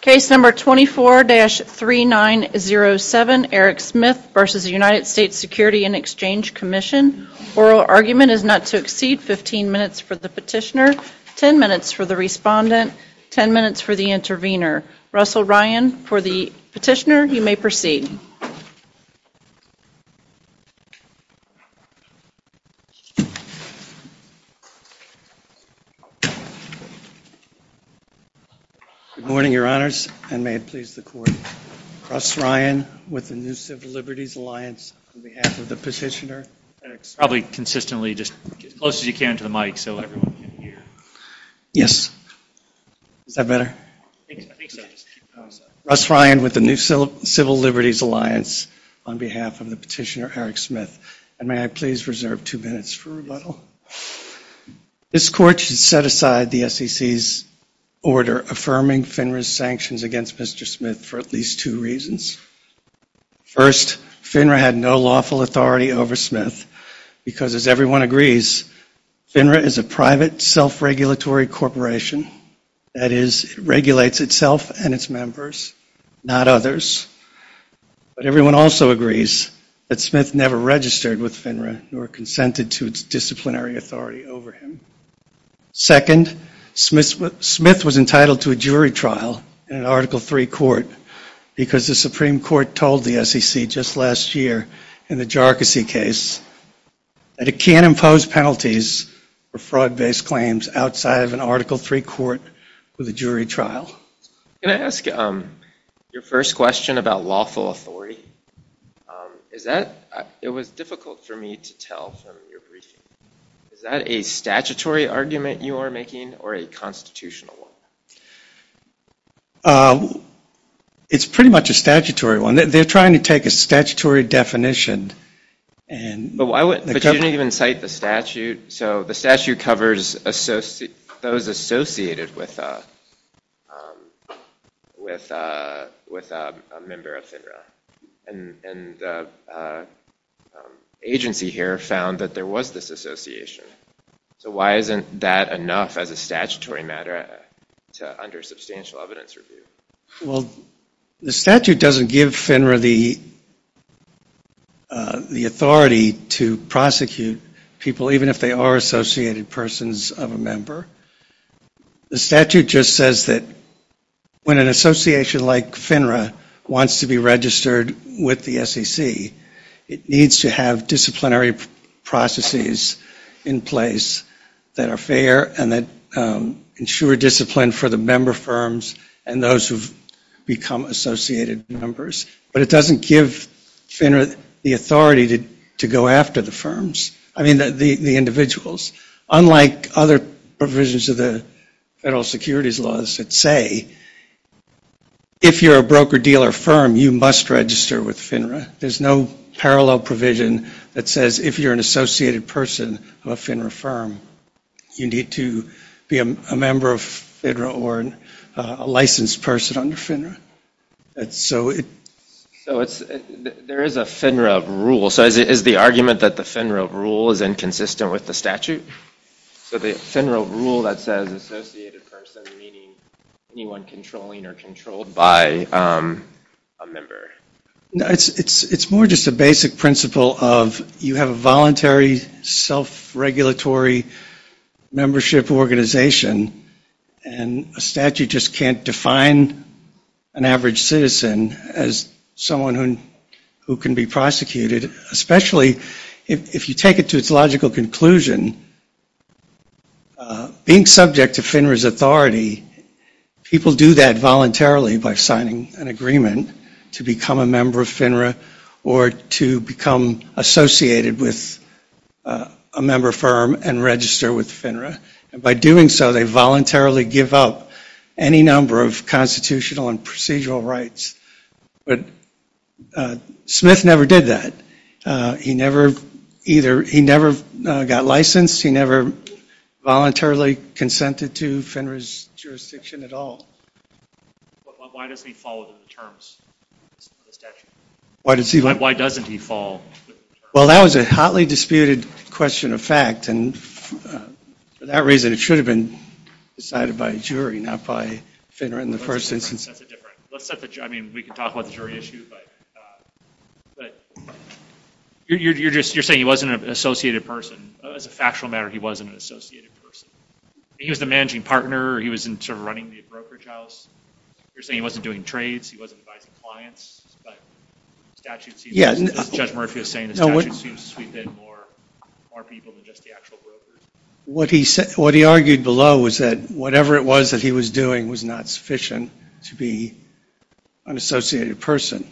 Case number 24-3907, Eric Smith v. United States Security and Exchange Commission. Oral argument is not to exceed 15 minutes for the petitioner, 10 minutes for the respondent, 10 minutes for the intervener. Russell Ryan for the your honors and may it please the court. Russ Ryan with the New Civil Liberties Alliance on behalf of the petitioner. Probably consistently, just close as you can to the mic so everyone can hear. Yes. Is that better? Russ Ryan with the New Civil Liberties Alliance on behalf of the petitioner Eric Smith. And may I please reserve two minutes for rebuttal. This court should set aside the SEC's order affirming FINRA's sanctions against Mr. Smith for at least two reasons. First, FINRA had no lawful authority over Smith because, as everyone agrees, FINRA is a private self-regulatory corporation. That is, it regulates itself and its members, not others. But everyone also agrees that Smith never registered with FINRA nor consented to its disciplinary authority over him. Second, Smith was entitled to a jury trial in an Article III court because the Supreme Court told the SEC just last year in the Jharkhasi case that it can't impose penalties for fraud-based claims outside of an Article III court with a jury trial. Can I ask your first question about lawful authority? It was difficult for me to tell from your briefing. Is that a statutory argument you are making or a constitutional one? It's pretty much a statutory one. They're trying to take a statutory definition. But you didn't even cite the statute. So the statute covers those associated with a member of FINRA. And the agency here found that there was this association. So why isn't that enough as a statutory matter under substantial evidence review? Well, the statute doesn't give FINRA the authority to prosecute people even if they are associated persons of a member. The statute just says that when an association like FINRA wants to be registered with the SEC, it needs to have disciplinary processes in place that are fair and that ensure discipline for the member firms and those who've become associated members. But it doesn't give FINRA the authority to go after the firms, I mean the individuals. Unlike other provisions of the federal securities laws that say if you're a broker-dealer firm, you must register with FINRA. There's no parallel provision that says if you're an associated person of a FINRA firm, you need to be a member of FINRA or a licensed person under FINRA. So there is a FINRA rule. So is the argument that the FINRA rule is inconsistent with the statute? So the FINRA rule that says associated person, meaning anyone controlling or controlled by a member. It's more just a basic principle of you have a voluntary self-regulatory membership organization and a statute just can't define an average citizen as someone who can be prosecuted, especially if you take it to its logical conclusion. Being subject to FINRA's authority, people do that voluntarily by signing an agreement to become a member of FINRA or to become associated with a member firm and register with FINRA. By doing so, they voluntarily give up any number of constitutional and procedural rights. But Smith never did that. He never either, he never got licensed. He never voluntarily consented to FINRA's jurisdiction at all. Why doesn't he follow the terms of the statute? Why doesn't he follow the terms? Well, that was a hotly disputed question of fact and for that reason, it should have been decided by a jury, not by FINRA in the first instance. That's a different, I mean we can talk about the jury issue, but you're just, you're saying he wasn't an associated person. As a factual matter, he wasn't an associated person. He was the managing partner, he was in sort of running the brokerage house. You're saying he wasn't doing trades, he wasn't advising clients, but the statute seems, as Judge Murphy was saying, the statute seems to sweep in more people than just the actual brokers. What he argued below was that whatever it was that he was doing was not sufficient to be an associated person.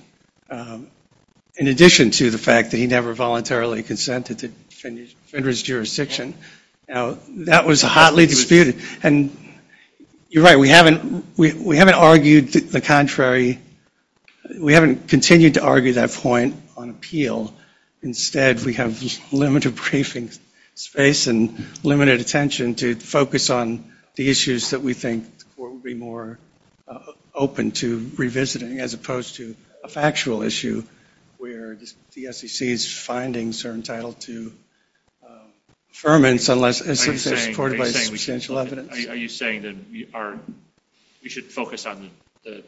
In addition to the fact that he never voluntarily consented to FINRA's jurisdiction, that was a hotly disputed, and you're right, we haven't argued the contrary, we haven't continued to argue that point on appeal. Instead, we have limited briefing space and limited attention to focus on the issues that we think the court would be more open to revisiting as opposed to a factual issue where the SEC's findings are entitled to affirmance unless it's supported by substantial evidence. Are you saying that we should focus on the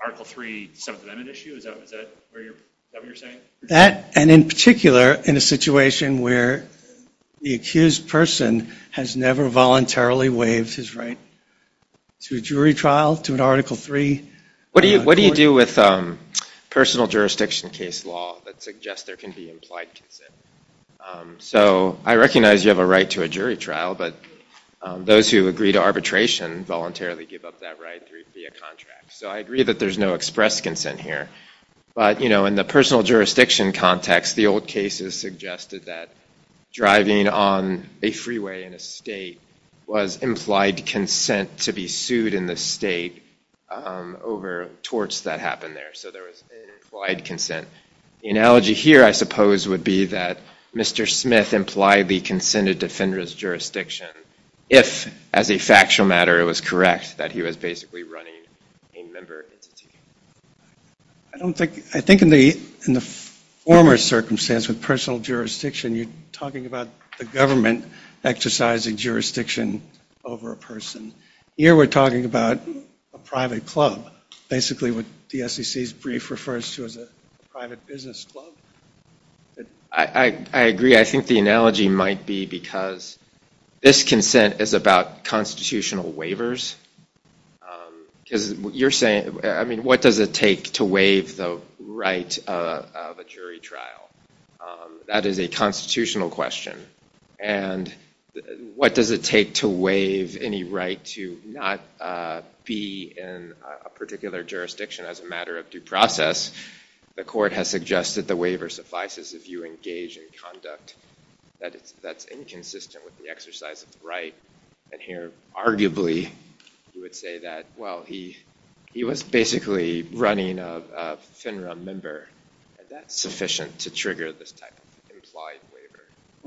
Article III, Seventh Amendment issue? Is that what you're saying? That, and in particular, in a situation where the accused person has never voluntarily waived his right to a jury trial, to an Article III court? What do you do with personal jurisdiction case law that suggests there can be implied consent? I recognize you have a right to a jury trial, but those who agree to arbitration voluntarily give up that right via contract. I agree that there's no express consent here, but in the personal jurisdiction context, the old cases suggested that driving on a freeway in a state was implied consent to be sued in the state over torts that happened there, so there was implied consent. The analogy here, I suppose, would be that Mr. Smith implied the consented defender's jurisdiction if, as a factual matter, it was correct that he was basically running a member entity. I think in the former circumstance with personal jurisdiction, you're talking about the government exercising jurisdiction over a person. Here, we're talking about a private club, basically what the SEC's brief refers to as a private business club. I agree. I think the analogy might be because this consent is about constitutional waivers, because you're saying, I mean, what does it take to waive the right of a jury trial? That is a constitutional question, and what does it take to waive any right to not be in a particular jurisdiction as a matter of due process? The court has suggested the waiver suffices if you engage in conduct that's inconsistent with the exercise of the right. Here, arguably, you would say that, well, he was basically running a FINRA member. Is that sufficient to trigger this type of implied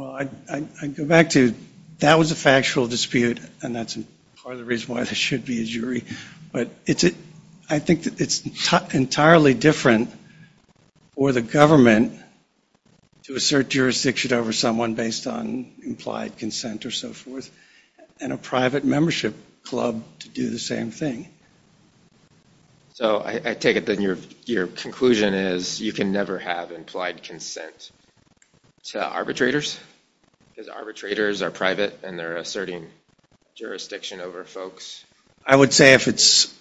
waiver? I'd go back to, that was a factual dispute, and that's part of the reason why there should be a jury. But I think that it's entirely different for the government to assert jurisdiction over someone based on implied consent or so forth and a private membership club to do the same thing. So I take it that your conclusion is you can never have implied consent to arbitrators, because arbitrators are private and they're asserting jurisdiction over folks. I would say if it's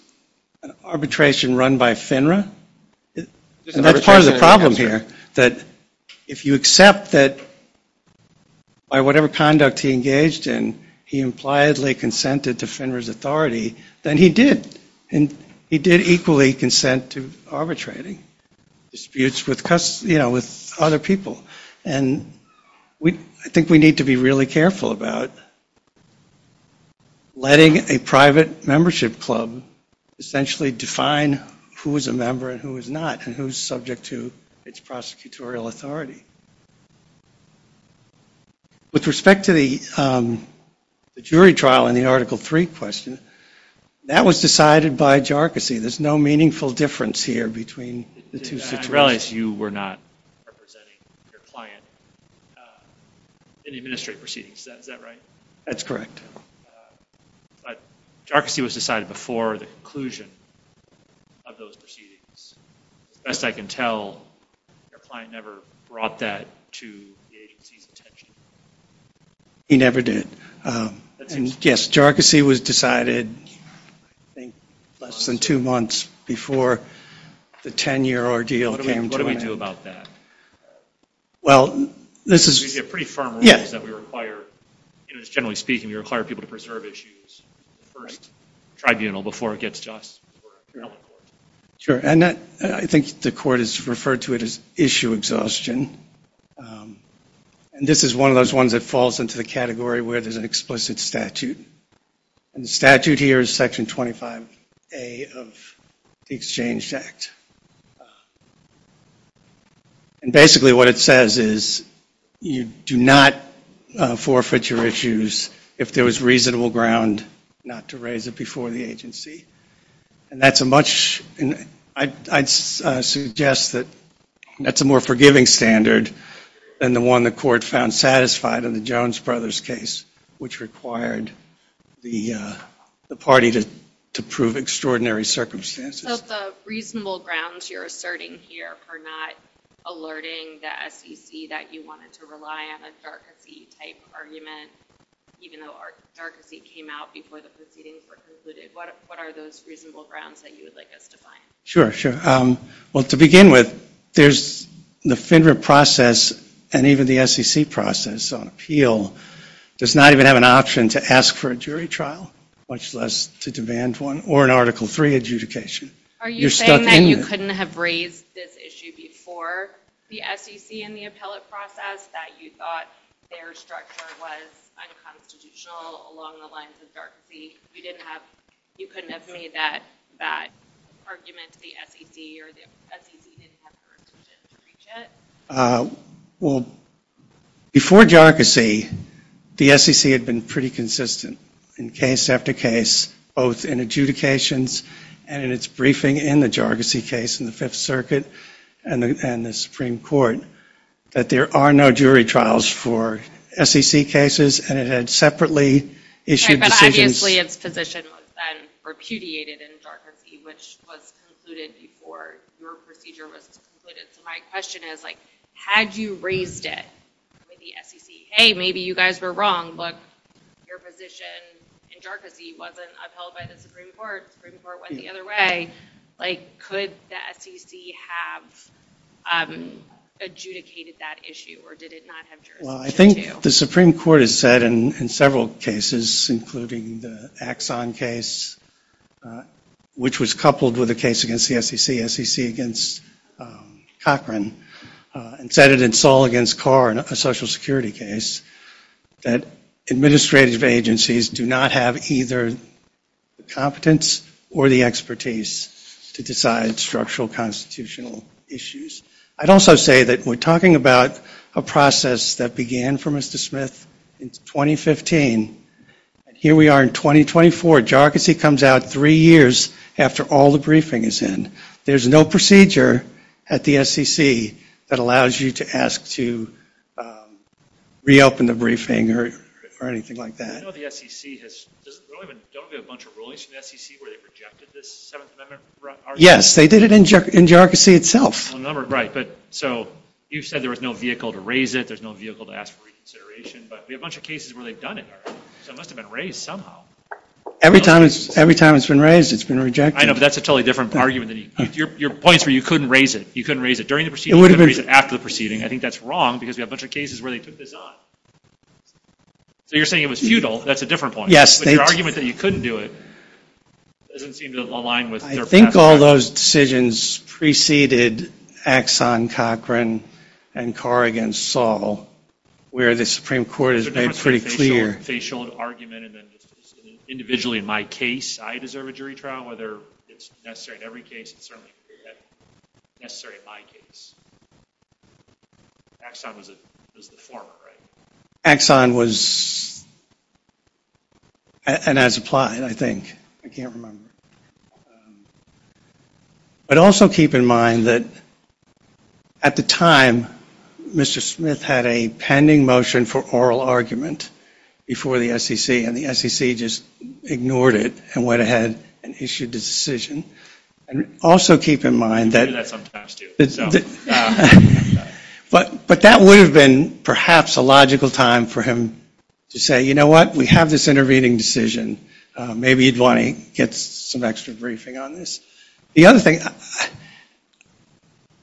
an arbitration run by FINRA, and that's part of the problem here, that if you accept that by whatever conduct he engaged in, he impliedly consented to FINRA's authority, then he did, and he did equally consent to arbitrating disputes with other people. And I think we need to be really careful about letting a private membership club essentially define who is a member and who is not and who is subject to its prosecutorial authority. With respect to the jury trial in the Article III question, that was decided by JARCISI. There's no meaningful difference here between the two situations. I realize you were not representing your client in the administrative proceedings. Is that right? That's correct. But JARCISI was decided before the conclusion of those proceedings. As best I can tell, your client never brought that to the agency's attention. He never did. Yes, JARCISI was decided, I think, less than two months before the 10-year ordeal came to an end. What do we do about that? Well, this is... We have pretty firm rules that we require. Generally speaking, we require people to preserve issues in the first tribunal before it gets to us. Sure, and I think the court has referred to it as issue exhaustion. And this is one of those ones that falls into the category where there's an explicit statute. And the statute here is Section 25A of the Exchange Act. And basically what it says is you do not forfeit your issues if there was reasonable ground not to raise it before the agency. And that's a much... I'd suggest that that's a more forgiving standard than the one the court found satisfied in the Jones brothers case, which required the party to prove extraordinary circumstances. So the reasonable grounds you're asserting here for not alerting the SEC that you wanted to rely on a JARCISI-type argument, even though JARCISI came out before the proceedings were concluded. What are those reasonable grounds that you would like us to find? Sure, sure. Well, to begin with, there's the FINRA process and even the SEC process on appeal does not even have an option to ask for a jury trial, much less to demand one, or an Article III adjudication. Are you saying that you couldn't have raised this issue before the SEC in the appellate process, that you thought their structure was unconstitutional along the lines of JARCISI? You couldn't have made that bad argument to the SEC or the SEC didn't have jurisdiction to reach it? Well, before JARCISI, the SEC had been pretty consistent in case after case, both in adjudications and in its briefing in the JARCISI case in the Fifth Circuit and the Supreme Court, that there are no jury trials for SEC cases and it had separately issued decisions. But obviously its position was then repudiated in JARCISI, which was concluded before your procedure was concluded. So my question is, had you raised it with the SEC? Hey, maybe you guys were wrong, but your position in JARCISI wasn't upheld by the Supreme Court. The Supreme Court went the other way. Could the SEC have adjudicated that issue or did it not have jurisdiction to appeal? Well, I think the Supreme Court has said in several cases, including the Axon case, which was coupled with a case against the SEC, SEC against Cochran, and said it in Saul against Carr, a Social Security case, that administrative agencies do not have either the competence or the expertise to decide structural constitutional issues. I'd also say that we're talking about a process that began for Mr. Smith in 2015. Here we are in 2024. JARCISI comes out three years after all the briefing is in. There's no procedure at the SEC that allows you to ask to reopen the briefing or anything like that. I know the SEC has, don't we have a bunch of rulings from the SEC where they rejected this 7th Amendment? Yes, they did it in JARCISI itself. Right, but so you said there was no vehicle to raise it, there's no vehicle to ask for reconsideration, but we have a bunch of cases where they've done it already, so it must have been raised somehow. Every time it's been raised, it's been rejected. I know, but that's a totally different argument. Your point is where you couldn't raise it, you couldn't raise it during the proceeding, you couldn't raise it after the proceeding. I think that's wrong because we have a bunch of cases where they took this on. So you're saying it was futile, that's a different point. Yes. But your argument that you couldn't do it doesn't seem to align with their practice. I think all those decisions preceded Axon, Cochran, and Carr against Saul, where the Supreme Court is made pretty clear. It's a different sort of facial argument, and then just individually in my case, I deserve a jury trial, whether it's necessary in every case, it's certainly necessary in my case. Axon was the former, right? Axon was, and has applied, I think. I can't remember. But also keep in mind that at the time, Mr. Smith had a pending motion for oral argument before the SEC, and the SEC just ignored it and went ahead and issued a decision. And also keep in mind that... We do that sometimes, too. But that would have been perhaps a logical time for him to say, you know what, we have this intervening decision. Maybe you'd want to get some extra briefing on this. The other thing,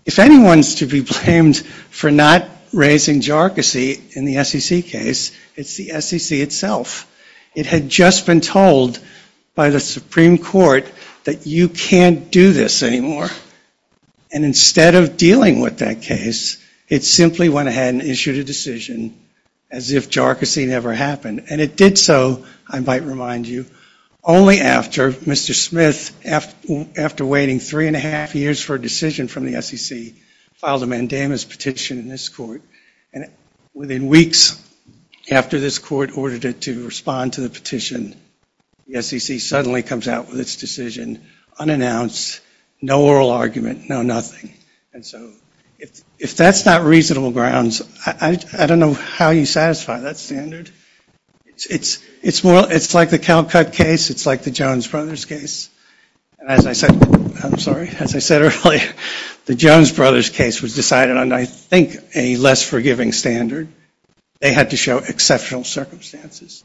if anyone's to be blamed for not raising jargassy in the SEC case, it's the SEC itself. It had just been told by the Supreme Court that you can't do this anymore. And instead of dealing with that case, it simply went ahead and issued a decision as if jargassy never happened. And it did so, I might remind you, only after Mr. Smith, after waiting three and a half years for a decision from the SEC, filed a mandamus petition in this court. And within weeks after this court ordered it to respond to the petition, the SEC suddenly comes out with its decision unannounced, no oral argument, no nothing. And so if that's not reasonable grounds, I don't know how you satisfy that standard. It's like the Calcutt case. It's like the Jones Brothers case. As I said earlier, the Jones Brothers case was decided on, I think, a less forgiving standard. They had to show exceptional circumstances.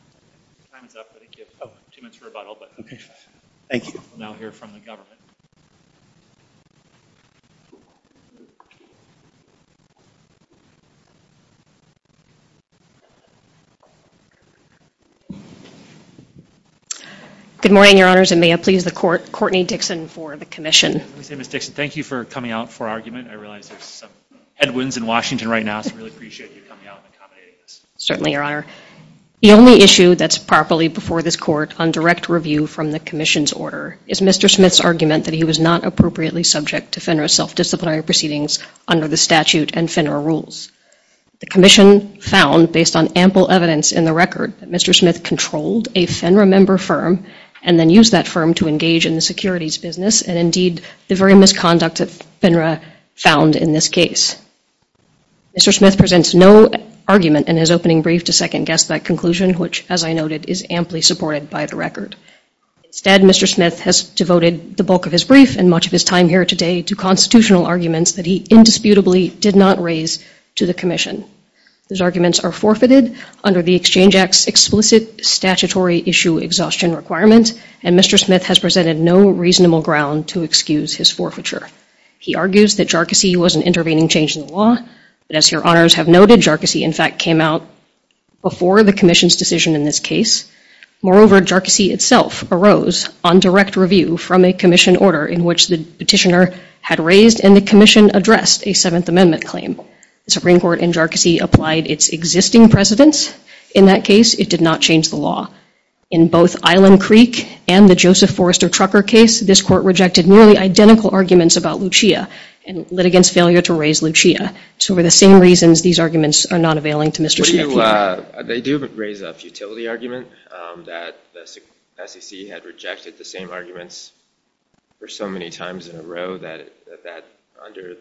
Time is up. I think you have two minutes for rebuttal. Okay. Thank you. We'll now hear from the government. Good morning, Your Honors, and may I please the Court, Courtney Dixon for the commission. Let me say, Ms. Dixon, thank you for coming out for argument. I realize there's some headwinds in Washington right now, so I really appreciate you coming out and accommodating us. Certainly, Your Honor. The only issue that's properly before this Court on direct review from the commission's order is Mr. Smith's argument that he was not appropriately subject to FINRA's self-disciplinary proceedings under the statute and FINRA rules. The commission found, based on ample evidence in the record, that Mr. Smith controlled a FINRA member firm and then used that firm to engage in the securities business, and indeed the very misconduct that FINRA found in this case. Mr. Smith presents no argument in his opening brief to second-guess that conclusion, which, as I noted, is amply supported by the record. Instead, Mr. Smith has devoted the bulk of his brief and much of his time here today to constitutional arguments that he indisputably did not raise to the commission. Those arguments are forfeited under the Exchange Act's explicit statutory issue exhaustion requirement, and Mr. Smith has presented no reasonable ground to excuse his forfeiture. He argues that Jarkissi was an intervening change in the law, but as your honors have noted, Jarkissi, in fact, came out before the commission's decision in this case. Moreover, Jarkissi itself arose on direct review from a commission order in which the petitioner had raised and the commission addressed a Seventh Amendment claim. The Supreme Court in Jarkissi applied its existing precedents. In that case, it did not change the law. In both Island Creek and the Joseph Forrester Trucker case, this court rejected nearly identical arguments about Lucia and litigants' failure to raise Lucia. So for the same reasons, these arguments are not availing to Mr. Smith. They do raise a futility argument that the SEC had rejected the same arguments for so many times in a row that under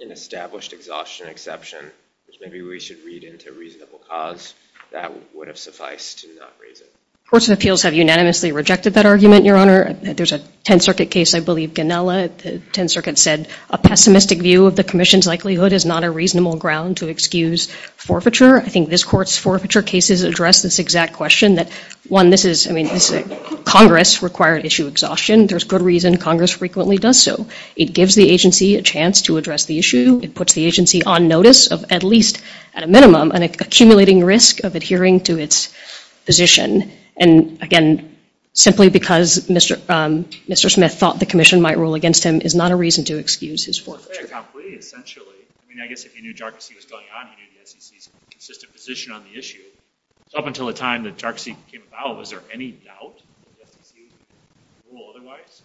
an established exhaustion exception, which maybe we should read into reasonable cause, that would have sufficed to not raise it. Courts of Appeals have unanimously rejected that argument, your honor. There's a Tenth Circuit case, I believe, Ganella. The Tenth Circuit said a pessimistic view of the commission's likelihood is not a reasonable ground to excuse forfeiture. I think this court's forfeiture cases address this exact question that, one, this is, I mean, Congress required issue exhaustion. There's good reason Congress frequently does so. It gives the agency a chance to address the issue. It puts the agency on notice of at least, at a minimum, an accumulating risk of adhering to its position. And, again, simply because Mr. Smith thought the commission might rule against him is not a reason to excuse his forfeiture. To say it completely, essentially, I mean, I guess if you knew Jarczy was going on, you knew the SEC's consistent position on the issue. So up until the time that Jarczy came about, was there any doubt that the SEC would rule otherwise?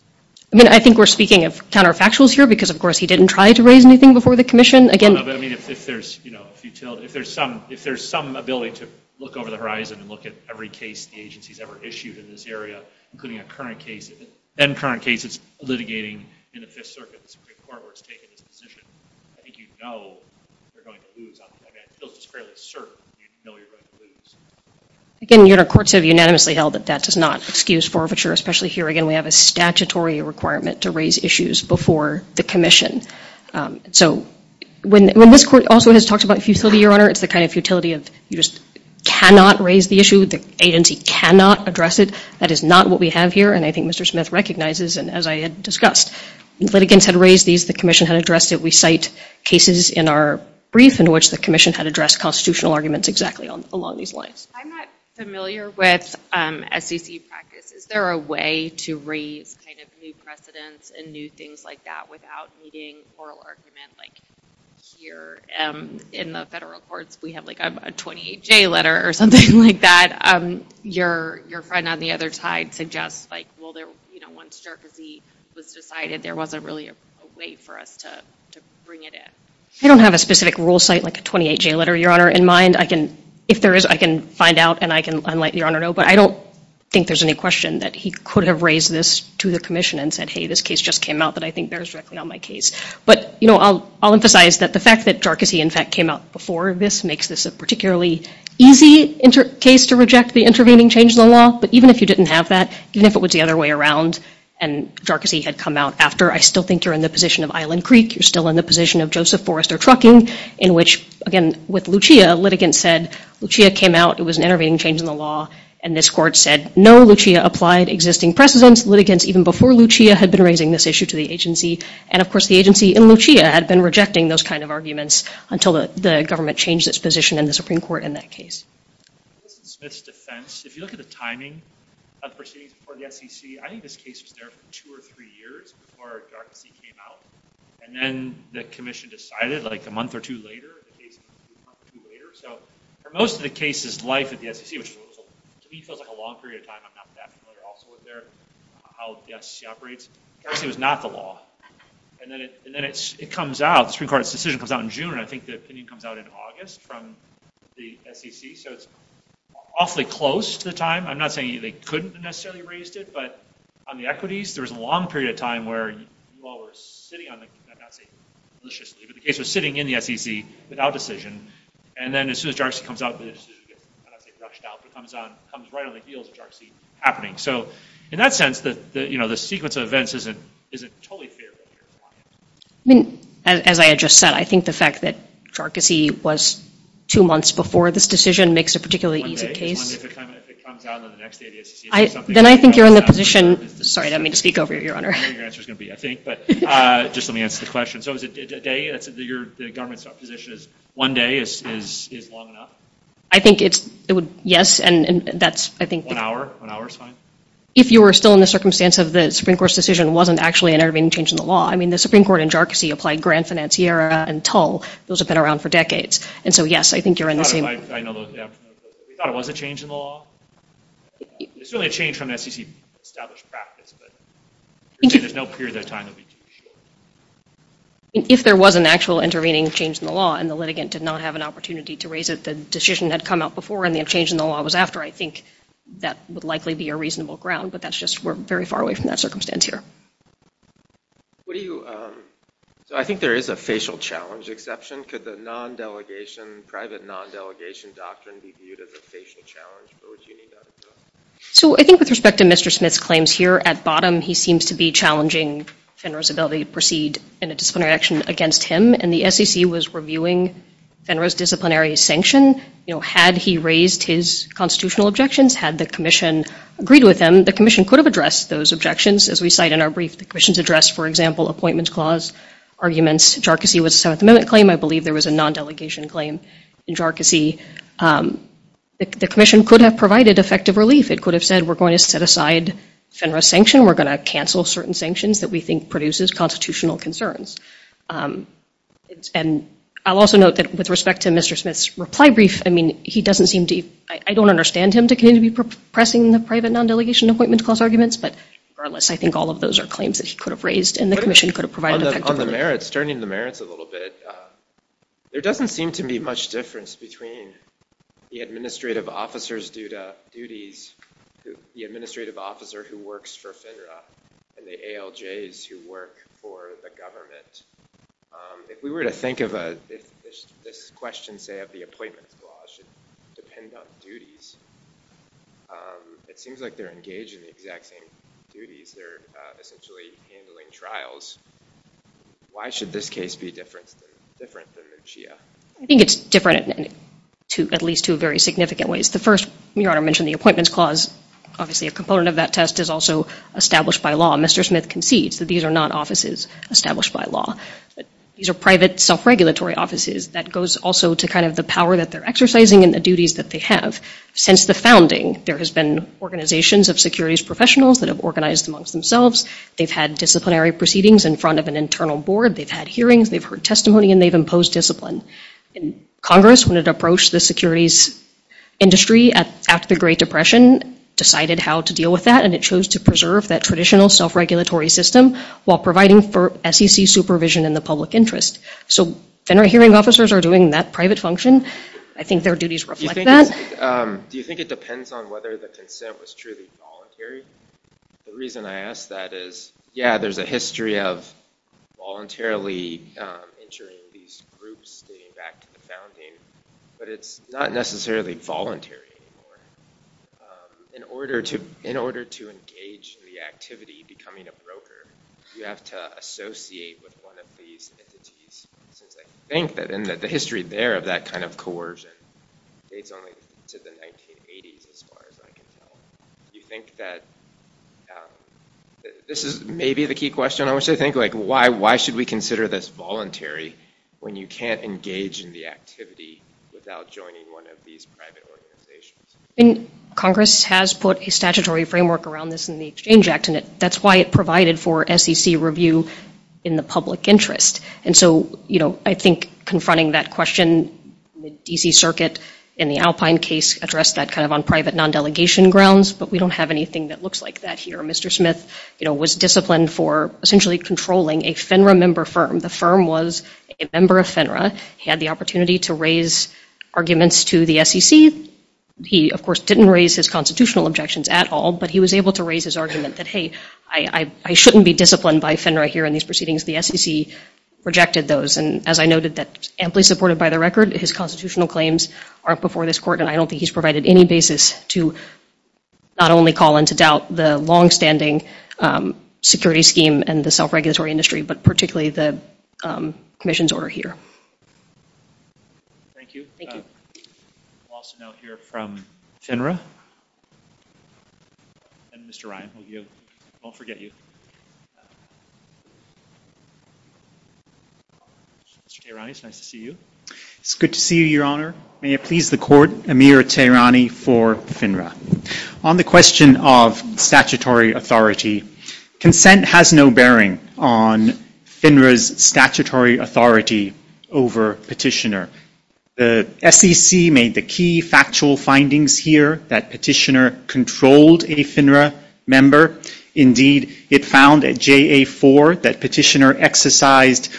I mean, I think we're speaking of counterfactuals here, because, of course, he didn't try to raise anything before the commission. I mean, if there's, you know, a futility, if there's some ability to look over the horizon and look at every case the agency's ever issued in this area, including a current case and current cases litigating in the Fifth Circuit Supreme Court where it's taken its position, I think you know you're going to lose. I mean, I feel just fairly certain you know you're going to lose. Again, Your Honor, courts have unanimously held that that does not excuse forfeiture, especially here, again, we have a statutory requirement to raise issues before the commission. So when this court also has talked about futility, Your Honor, it's the kind of futility of you just cannot raise the issue, the agency cannot address it. That is not what we have here, and I think Mr. Smith recognizes, and as I had discussed, litigants had raised these, the commission had addressed it. We cite cases in our brief in which the commission had addressed constitutional arguments exactly along these lines. I'm not familiar with SEC practice. Is there a way to raise kind of new precedents and new things like that without needing oral argument like here in the federal courts? We have like a 28-J letter or something like that. Your friend on the other side suggests like, well, you know, once Jerczy was decided, there wasn't really a way for us to bring it in. I don't have a specific rule cite like a 28-J letter, Your Honor, in mind. If there is, I can find out and I can let Your Honor know, but I don't think there's any question that he could have raised this to the commission and said, hey, this case just came out that I think bears directly on my case. But, you know, I'll emphasize that the fact that Jerczy, in fact, came out before this makes this a particularly easy case to reject the intervening change in the law, but even if you didn't have that, even if it was the other way around and Jerczy had come out after, I still think you're in the position of Island Creek. You're still in the position of Joseph Forrester Trucking in which, again, with Lucia, litigants said Lucia came out. It was an intervening change in the law, and this court said, no, Lucia applied existing precedents. Litigants, even before Lucia, had been raising this issue to the agency, and, of course, the agency in Lucia had been rejecting those kind of arguments until the government changed its position in the Supreme Court in that case. This is Smith's defense. If you look at the timing of proceedings before the SEC, I think this case was there for two or three years before Jerczy came out, and then the commission decided like a month or two later. So for most of the case's life at the SEC, which to me feels like a long period of time, I'm not that familiar also with how the SEC operates, Jerczy was not the law. And then it comes out, the Supreme Court's decision comes out in June, and I think the opinion comes out in August from the SEC. So it's awfully close to the time. I'm not saying they couldn't have necessarily raised it, but on the equities, there was a long period of time where you all were sitting on the, I'm not saying maliciously, but the case was sitting in the SEC without decision, and then as soon as Jerczy comes out, the decision gets, I'm not saying rushed out, but it comes right on the heels of Jerczy happening. So in that sense, the sequence of events isn't totally fair. As I had just said, I think the fact that Jerczy was two months before this decision makes it a particularly easy case. If it comes out on the next day of the SEC. Then I think you're in the position, sorry, I didn't mean to speak over you, Your Honor. Your answer's going to be I think, but just let me answer the question. So is it a day? The government's position is one day is long enough? I think it's, yes, and that's, I think. One hour? One hour's fine? If you were still in the circumstance of the Supreme Court's decision wasn't actually an intervening change in the law. I mean, the Supreme Court and Jerczy applied Grand Financiera and Tull. Those have been around for decades. And so, yes, I think you're in the same. We thought it was a change in the law? It's only a change from SEC established practice, but there's no period of time that we can be sure. If there was an actual intervening change in the law, and the litigant did not have an opportunity to raise it, the decision had come out before, and the change in the law was after, I think that would likely be a reasonable ground. But that's just we're very far away from that circumstance here. What do you, so I think there is a facial challenge exception. Could the non-delegation, private non-delegation doctrine be viewed as a facial challenge, or would you need that? So I think with respect to Mr. Smith's claims here, at bottom he seems to be challenging Fenner's ability to proceed in a disciplinary action against him. And the SEC was reviewing Fenner's disciplinary sanction. You know, had he raised his constitutional objections, had the commission agreed with him, the commission could have addressed those objections. As we cite in our brief, the commission's address, for example, appointments clause arguments. Jarkissi was a Seventh Amendment claim. I believe there was a non-delegation claim in Jarkissi. The commission could have provided effective relief. It could have said, we're going to set aside Fenner's sanction. We're going to cancel certain sanctions that we think produces constitutional concerns. And I'll also note that with respect to Mr. Smith's reply brief, I mean, he doesn't seem to be, I don't understand him to continue to be pressing the private non-delegation appointment clause arguments. But regardless, I think all of those are claims that he could have raised, and the commission could have provided effective relief. On the merits, turning the merits a little bit, there doesn't seem to be much difference between the administrative officers due to duties, the administrative officer who works for Fenner, and the ALJs who work for the government. If we were to think of this question, say, of the appointments clause should depend on duties, it seems like they're engaged in the exact same duties. They're essentially handling trials. Why should this case be different than Muccia? I think it's different in at least two very significant ways. The first, Your Honor mentioned the appointments clause. Obviously, a component of that test is also established by law. Mr. Smith concedes that these are not offices established by law. These are private self-regulatory offices. That goes also to the power that they're exercising and the duties that they have. Since the founding, there has been organizations of securities professionals that have organized amongst themselves. They've had disciplinary proceedings in front of an internal board. They've had hearings. They've heard testimony. And they've imposed discipline. Congress, when it approached the securities industry after the Great Depression, decided how to deal with that. And it chose to preserve that traditional self-regulatory system while providing for SEC supervision in the public interest. So then our hearing officers are doing that private function. I think their duties reflect that. Do you think it depends on whether the consent was truly voluntary? The reason I ask that is, yeah, there's a history of voluntarily entering these groups, getting back to the founding. But it's not necessarily voluntary anymore. In order to engage in the activity of becoming a broker, you have to associate with one of these entities. Since I think that the history there of that kind of coercion dates only to the 1980s, as far as I can tell. Do you think that this is maybe the key question? I wish I think, like, why should we consider this voluntary when you can't engage in the activity without joining one of these private organizations? Congress has put a statutory framework around this in the Exchange Act. And that's why it provided for SEC review in the public interest. And so I think confronting that question, the DC Circuit in the Alpine case addressed that kind of on private non-delegation grounds. But we don't have anything that looks like that here. Mr. Smith was disciplined for essentially controlling a FINRA member firm. The firm was a member of FINRA. He had the opportunity to raise arguments to the SEC. He, of course, didn't raise his constitutional objections at all. But he was able to raise his argument that, hey, I shouldn't be disciplined by FINRA here in these proceedings. The SEC rejected those. And as I noted, that's amply supported by the record. His constitutional claims are before this court. And I don't think he's provided any basis to not only call into doubt the longstanding security scheme and the self-regulatory industry, but particularly the commission's order here. Thank you. Thank you. We'll also now hear from FINRA. And Mr. Ryan, who you won't forget you. Mr. Tehrani, it's nice to see you. It's good to see you, Your Honor. May it please the court, Amir Tehrani for FINRA. On the question of statutory authority, consent has no bearing on FINRA's statutory authority over Petitioner. The SEC made the key factual findings here that Petitioner controlled a FINRA member. Indeed, it found at JA4 that Petitioner exercised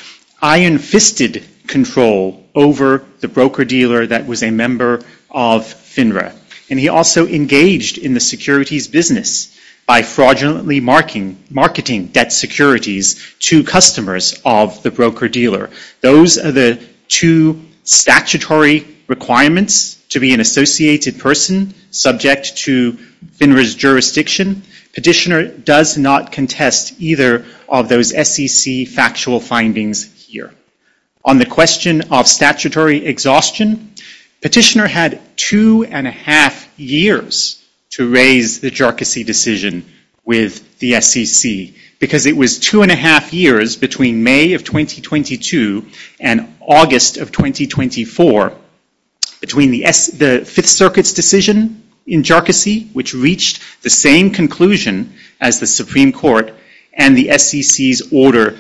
iron-fisted control over the broker-dealer that was a member of FINRA. And he also engaged in the securities business by fraudulently marketing debt securities to customers of the broker-dealer. Those are the two statutory requirements to be an associated person subject to FINRA's jurisdiction. Petitioner does not contest either of those SEC factual findings here. On the question of statutory exhaustion, Petitioner had two and a half years to raise the Jercosy decision with the SEC because it was two and a half years between May of 2022 and August of 2024 between the Fifth Circuit's decision in Jercosy, which reached the same conclusion as the Supreme Court, and the SEC's order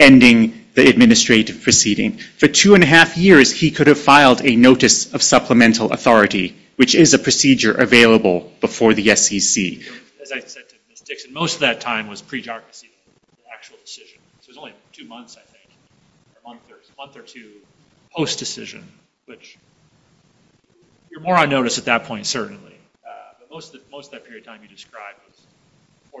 ending the administrative proceeding. For two and a half years, he could have filed a notice of supplemental authority, which is a procedure available before the SEC. As I said to Ms. Dixon, most of that time was pre-Jercosy, the actual decision. So it was only two months, I think, or a month or two post-decision, which you're more on notice at that point, certainly. But most of that period of time you described was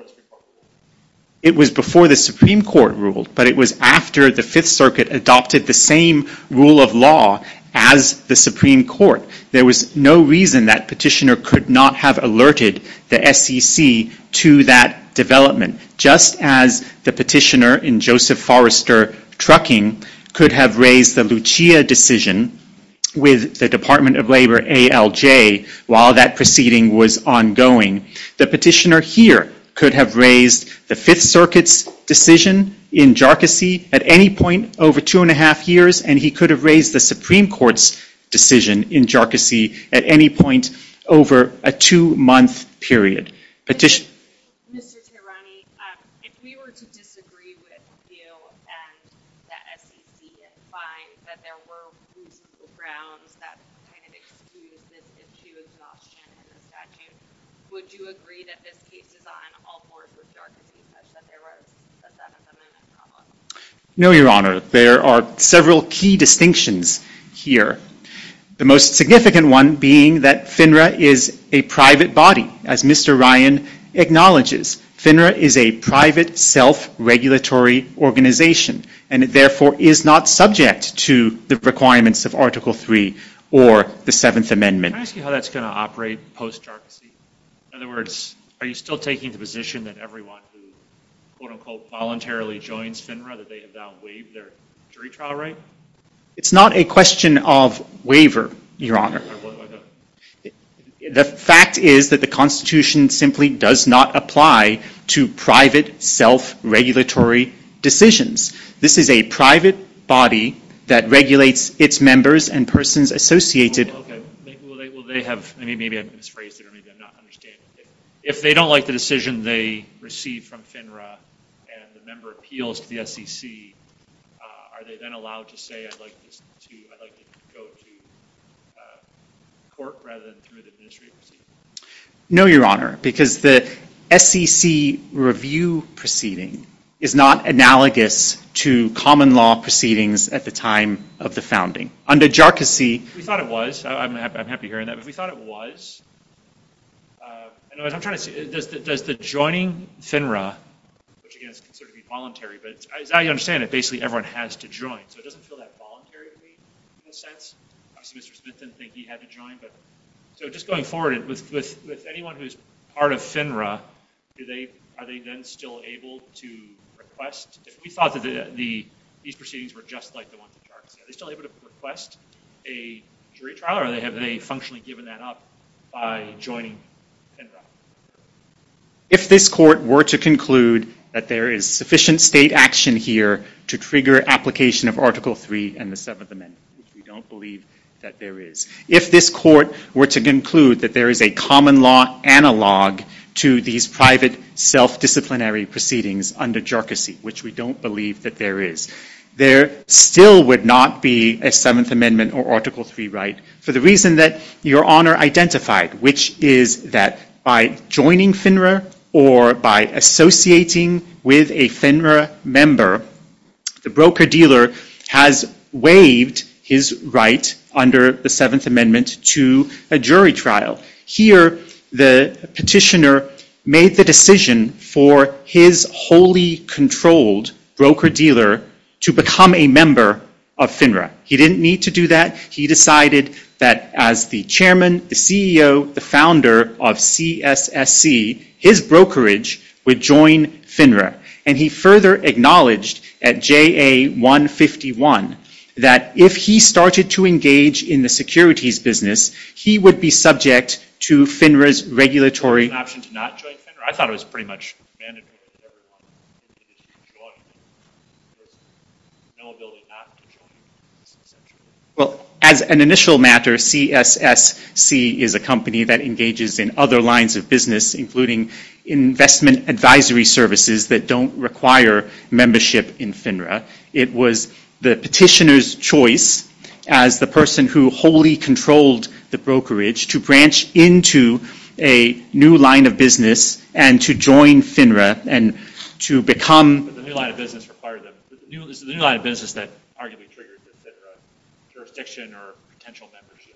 before the Supreme Court ruled. It was before the Supreme Court ruled, but it was after the Fifth Circuit adopted the same rule of law as the Supreme Court. There was no reason that petitioner could not have alerted the SEC to that development. Just as the petitioner in Joseph Forrester Trucking could have raised the Lucia decision with the Department of Labor ALJ while that proceeding was ongoing, the petitioner here could have raised the Fifth Circuit's decision in Jercosy at any point over two and a half years, and he could have raised the Supreme Court's decision in Jercosy at any point over a two-month period. Petitioner? Mr. Tehrani, if we were to disagree with you and the SEC and find that there were reasonable grounds that kind of excuse this issue of exhaustion in the statute, would you agree that this case is on all fours with Jercosy, such that there was a Senate amendment problem? No, Your Honor. There are several key distinctions here. The most significant one being that FINRA is a private body, as Mr. Ryan acknowledges. FINRA is a private, self-regulatory organization, and it therefore is not subject to the requirements of Article III or the Seventh Amendment. Can I ask you how that's going to operate post-Jercosy? In other words, are you still taking the position that everyone who, quote-unquote, voluntarily joins FINRA, that they have now waived their jury trial right? It's not a question of waiver, Your Honor. The fact is that the Constitution simply does not apply to private, self-regulatory decisions. This is a private body that regulates its members and persons associated with it. Maybe I've misphrased it, or maybe I'm not understanding. If they don't like the decision they received from FINRA and the member appeals to the SEC, are they then allowed to say, I'd like to go to court rather than through the Ministry of Proceedings? No, Your Honor, because the SEC review proceeding is not analogous to common law proceedings at the time of the founding. Under Jercosy- We thought it was. I'm happy hearing that, but we thought it was. I'm trying to see, does the joining FINRA, which, again, is considered to be voluntary, but as I understand it, basically everyone has to join, so it doesn't feel that voluntary to me, in a sense. Obviously, Mr. Smith didn't think he had to join, but just going forward, with anyone who's part of FINRA, are they then still able to request? If we thought that these proceedings were just like the ones of Jercosy, are they still able to request a jury trial, or have they functionally given that up by joining FINRA? If this court were to conclude that there is sufficient state action here to trigger application of Article III and the Seventh Amendment, which we don't believe that there is, if this court were to conclude that there is a common law analog to these private, self-disciplinary proceedings under Jercosy, which we don't believe that there is, there still would not be a Seventh Amendment or Article III right, for the reason that Your Honor identified, which is that by joining FINRA or by associating with a FINRA member, the broker-dealer has waived his right under the Seventh Amendment to a jury trial. Here, the petitioner made the decision for his wholly controlled broker-dealer to become a member of FINRA. He didn't need to do that. He decided that as the chairman, the CEO, the founder of CSSC, his brokerage would join FINRA. And he further acknowledged at JA151 that if he started to engage in the securities business, he would be subject to FINRA's regulatory... ...option to not join FINRA? I thought it was pretty much mandatory that everyone... ...join... ...no ability not to join... Well, as an initial matter, CSSC is a company that engages in other lines of business, including investment advisory services that don't require membership in FINRA. It was the petitioner's choice as the person who wholly controlled the brokerage to branch into a new line of business and to join FINRA and to become... But the new line of business required them. The new line of business that arguably triggered the FINRA jurisdiction or potential membership.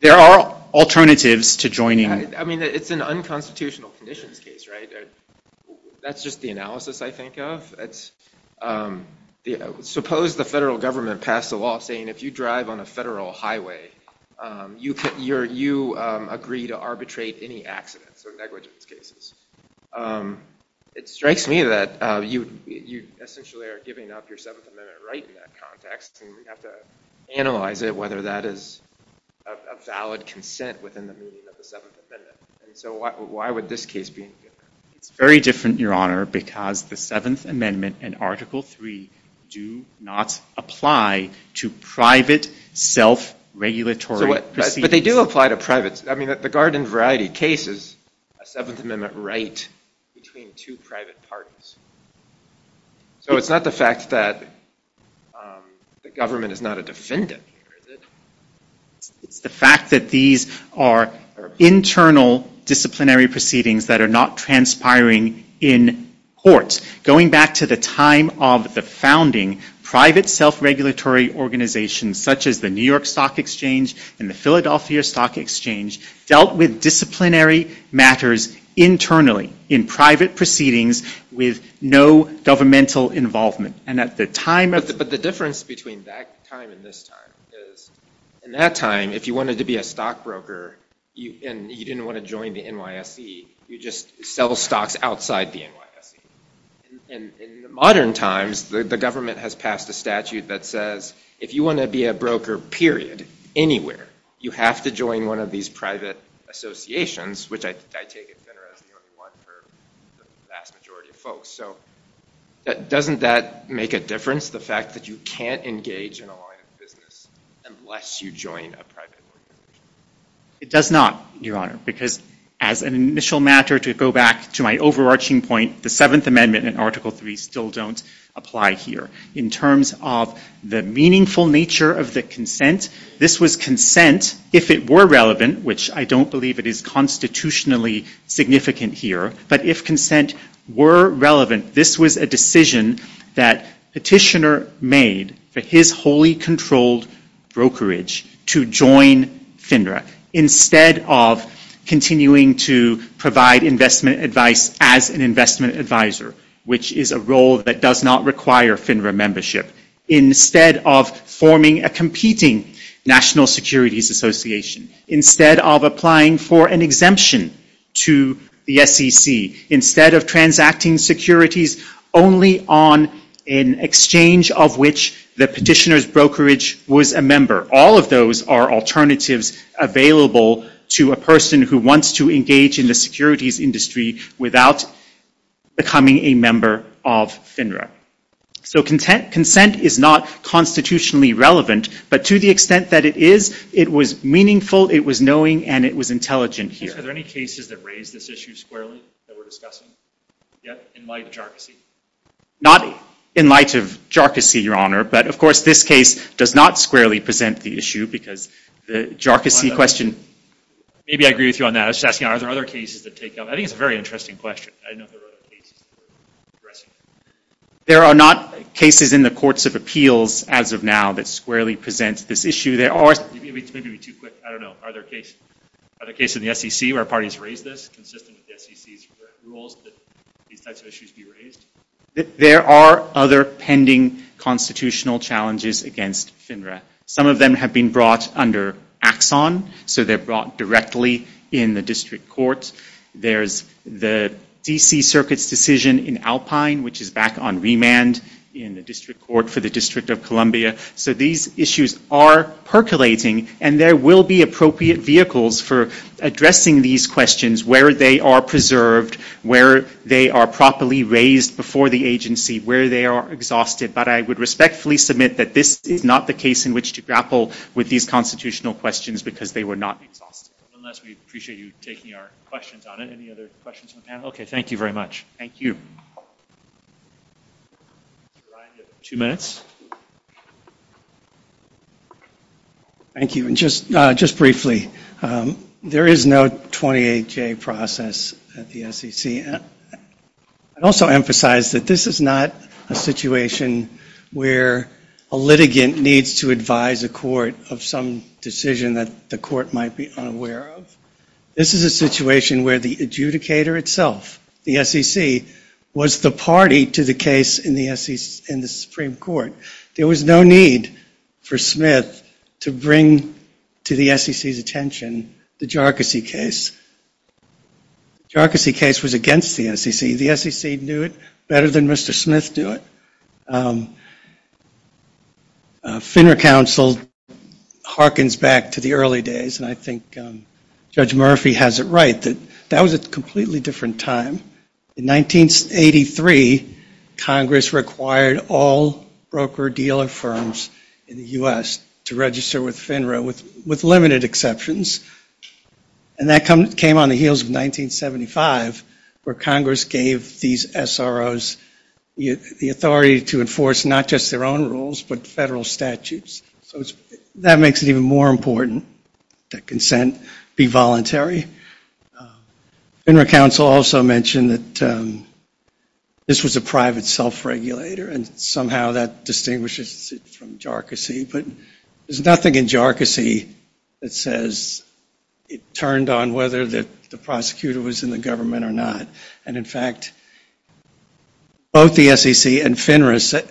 There are alternatives to joining... I mean, it's an unconstitutional conditions case, right? That's just the analysis I think of. Suppose the federal government passed a law saying if you drive on a federal highway, you agree to arbitrate any accidents or negligence cases. It strikes me that you essentially are giving up your Seventh Amendment right in that context, and we have to analyze it, whether that is a valid consent within the meaning of the Seventh Amendment. And so why would this case be... It's very different, Your Honor, because the Seventh Amendment and Article III do not apply to private self-regulatory proceedings. But they do apply to private... I mean, the Garden Variety case is a Seventh Amendment right between two private parties. So it's not the fact that the government is not a defendant here, is it? It's the fact that these are internal disciplinary proceedings that are not transpiring in courts. Going back to the time of the founding, private self-regulatory organizations such as the New York Stock Exchange and the Philadelphia Stock Exchange dealt with disciplinary matters internally, in private proceedings with no governmental involvement. And at the time of... But the difference between that time and this time is, in that time, if you wanted to be a stockbroker and you didn't want to join the NYSE, you'd just sell stocks outside the NYSE. In modern times, the government has passed a statute that says, if you want to be a broker, period, anywhere, you have to join one of these private associations, which I take it better as the only one for the vast majority of folks. So doesn't that make a difference, the fact that you can't engage in a line of business unless you join a private organization? It does not, Your Honor, because as an initial matter, to go back to my overarching point, the Seventh Amendment and Article III still don't apply here. In terms of the meaningful nature of the consent, this was consent, if it were relevant, which I don't believe it is constitutionally significant here, but if consent were relevant, this was a decision that Petitioner made for his wholly controlled brokerage to join FINRA instead of continuing to provide investment advice as an investment advisor, which is a role that does not require FINRA membership, instead of forming a competing National Securities Association, instead of applying for an exemption to the SEC, instead of transacting securities only on an exchange of which the Petitioner's brokerage was a member. All of those are alternatives available to a person who wants to engage in the securities industry without becoming a member of FINRA. So consent is not constitutionally relevant, but to the extent that it is, it was meaningful, it was knowing, and it was intelligent here. Are there any cases that raise this issue squarely that we're discussing yet in light of jarcossy? Not in light of jarcossy, Your Honor, but of course this case does not squarely present the issue because the jarcossy question... Maybe I agree with you on that. I was just asking are there other cases that take up... I think it's a very interesting question. I didn't know if there were other cases... There are not cases in the courts of appeals as of now that squarely present this issue. It's maybe too quick. I don't know. Are there cases in the SEC where parties raise this consistent with the SEC's rules that these types of issues be raised? There are other pending constitutional challenges against FINRA. Some of them have been brought under Axon, so they're brought directly in the district court. There's the DC Circuit's decision in Alpine, which is back on remand in the district court for the District of Columbia. So these issues are percolating, and there will be appropriate vehicles for addressing these questions, where they are preserved, where they are properly raised before the agency, where they are exhausted. But I would respectfully submit that this is not the case in which to grapple with these constitutional questions because they were not exhausted. Unless we appreciate you taking our questions on it. Any other questions from the panel? Okay, thank you very much. Thank you. Ryan, you have two minutes. Thank you. Just briefly, there is no 28-J process at the SEC. I'd also emphasize that this is not a situation where a litigant needs to advise a court of some decision that the court might be unaware of. This is a situation where the adjudicator itself, the SEC, was the party to the case in the Supreme Court. There was no need for Smith to bring to the SEC's attention the Jarkissi case. The Jarkissi case was against the SEC. The SEC knew it better than Mr. Smith knew it. FINRA counsel harkens back to the early days, and I think Judge Murphy has it right. That was a completely different time. In 1983, Congress required all broker-dealer firms in the U.S. to register with FINRA, with limited exceptions. And that came on the heels of 1975, where Congress gave these SROs the authority to enforce not just their own rules, but federal statutes. That makes it even more important that consent be voluntary. FINRA counsel also mentioned that this was a private self-regulator, and somehow that distinguishes it from Jarkissi. But there's nothing in Jarkissi that says it turned on whether the prosecutor was in the government or not. And, in fact, both the SEC and FINRA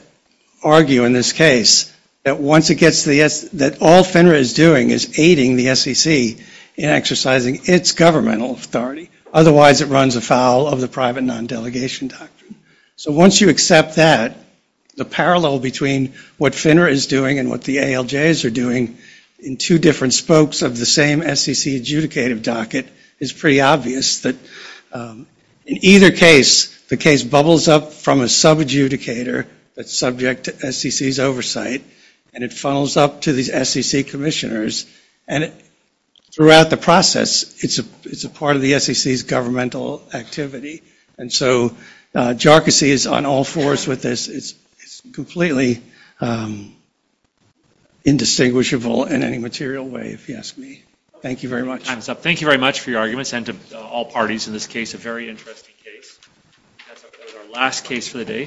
argue in this case that all FINRA is doing is aiding the SEC in exercising its governmental authority. Otherwise, it runs afoul of the private non-delegation doctrine. So once you accept that, the parallel between what FINRA is doing and what the ALJs are doing in two different spokes of the same SEC adjudicative docket is pretty obvious. In either case, the case bubbles up from a subadjudicator that's subject to SEC's oversight, and it funnels up to these SEC commissioners. And throughout the process, it's a part of the SEC's governmental activity. And so Jarkissi is on all fours with this. It's completely indistinguishable in any material way, if you ask me. Thank you very much. Time's up. Thank you very much for your arguments, and to all parties in this case, a very interesting case. That's our last case for the day.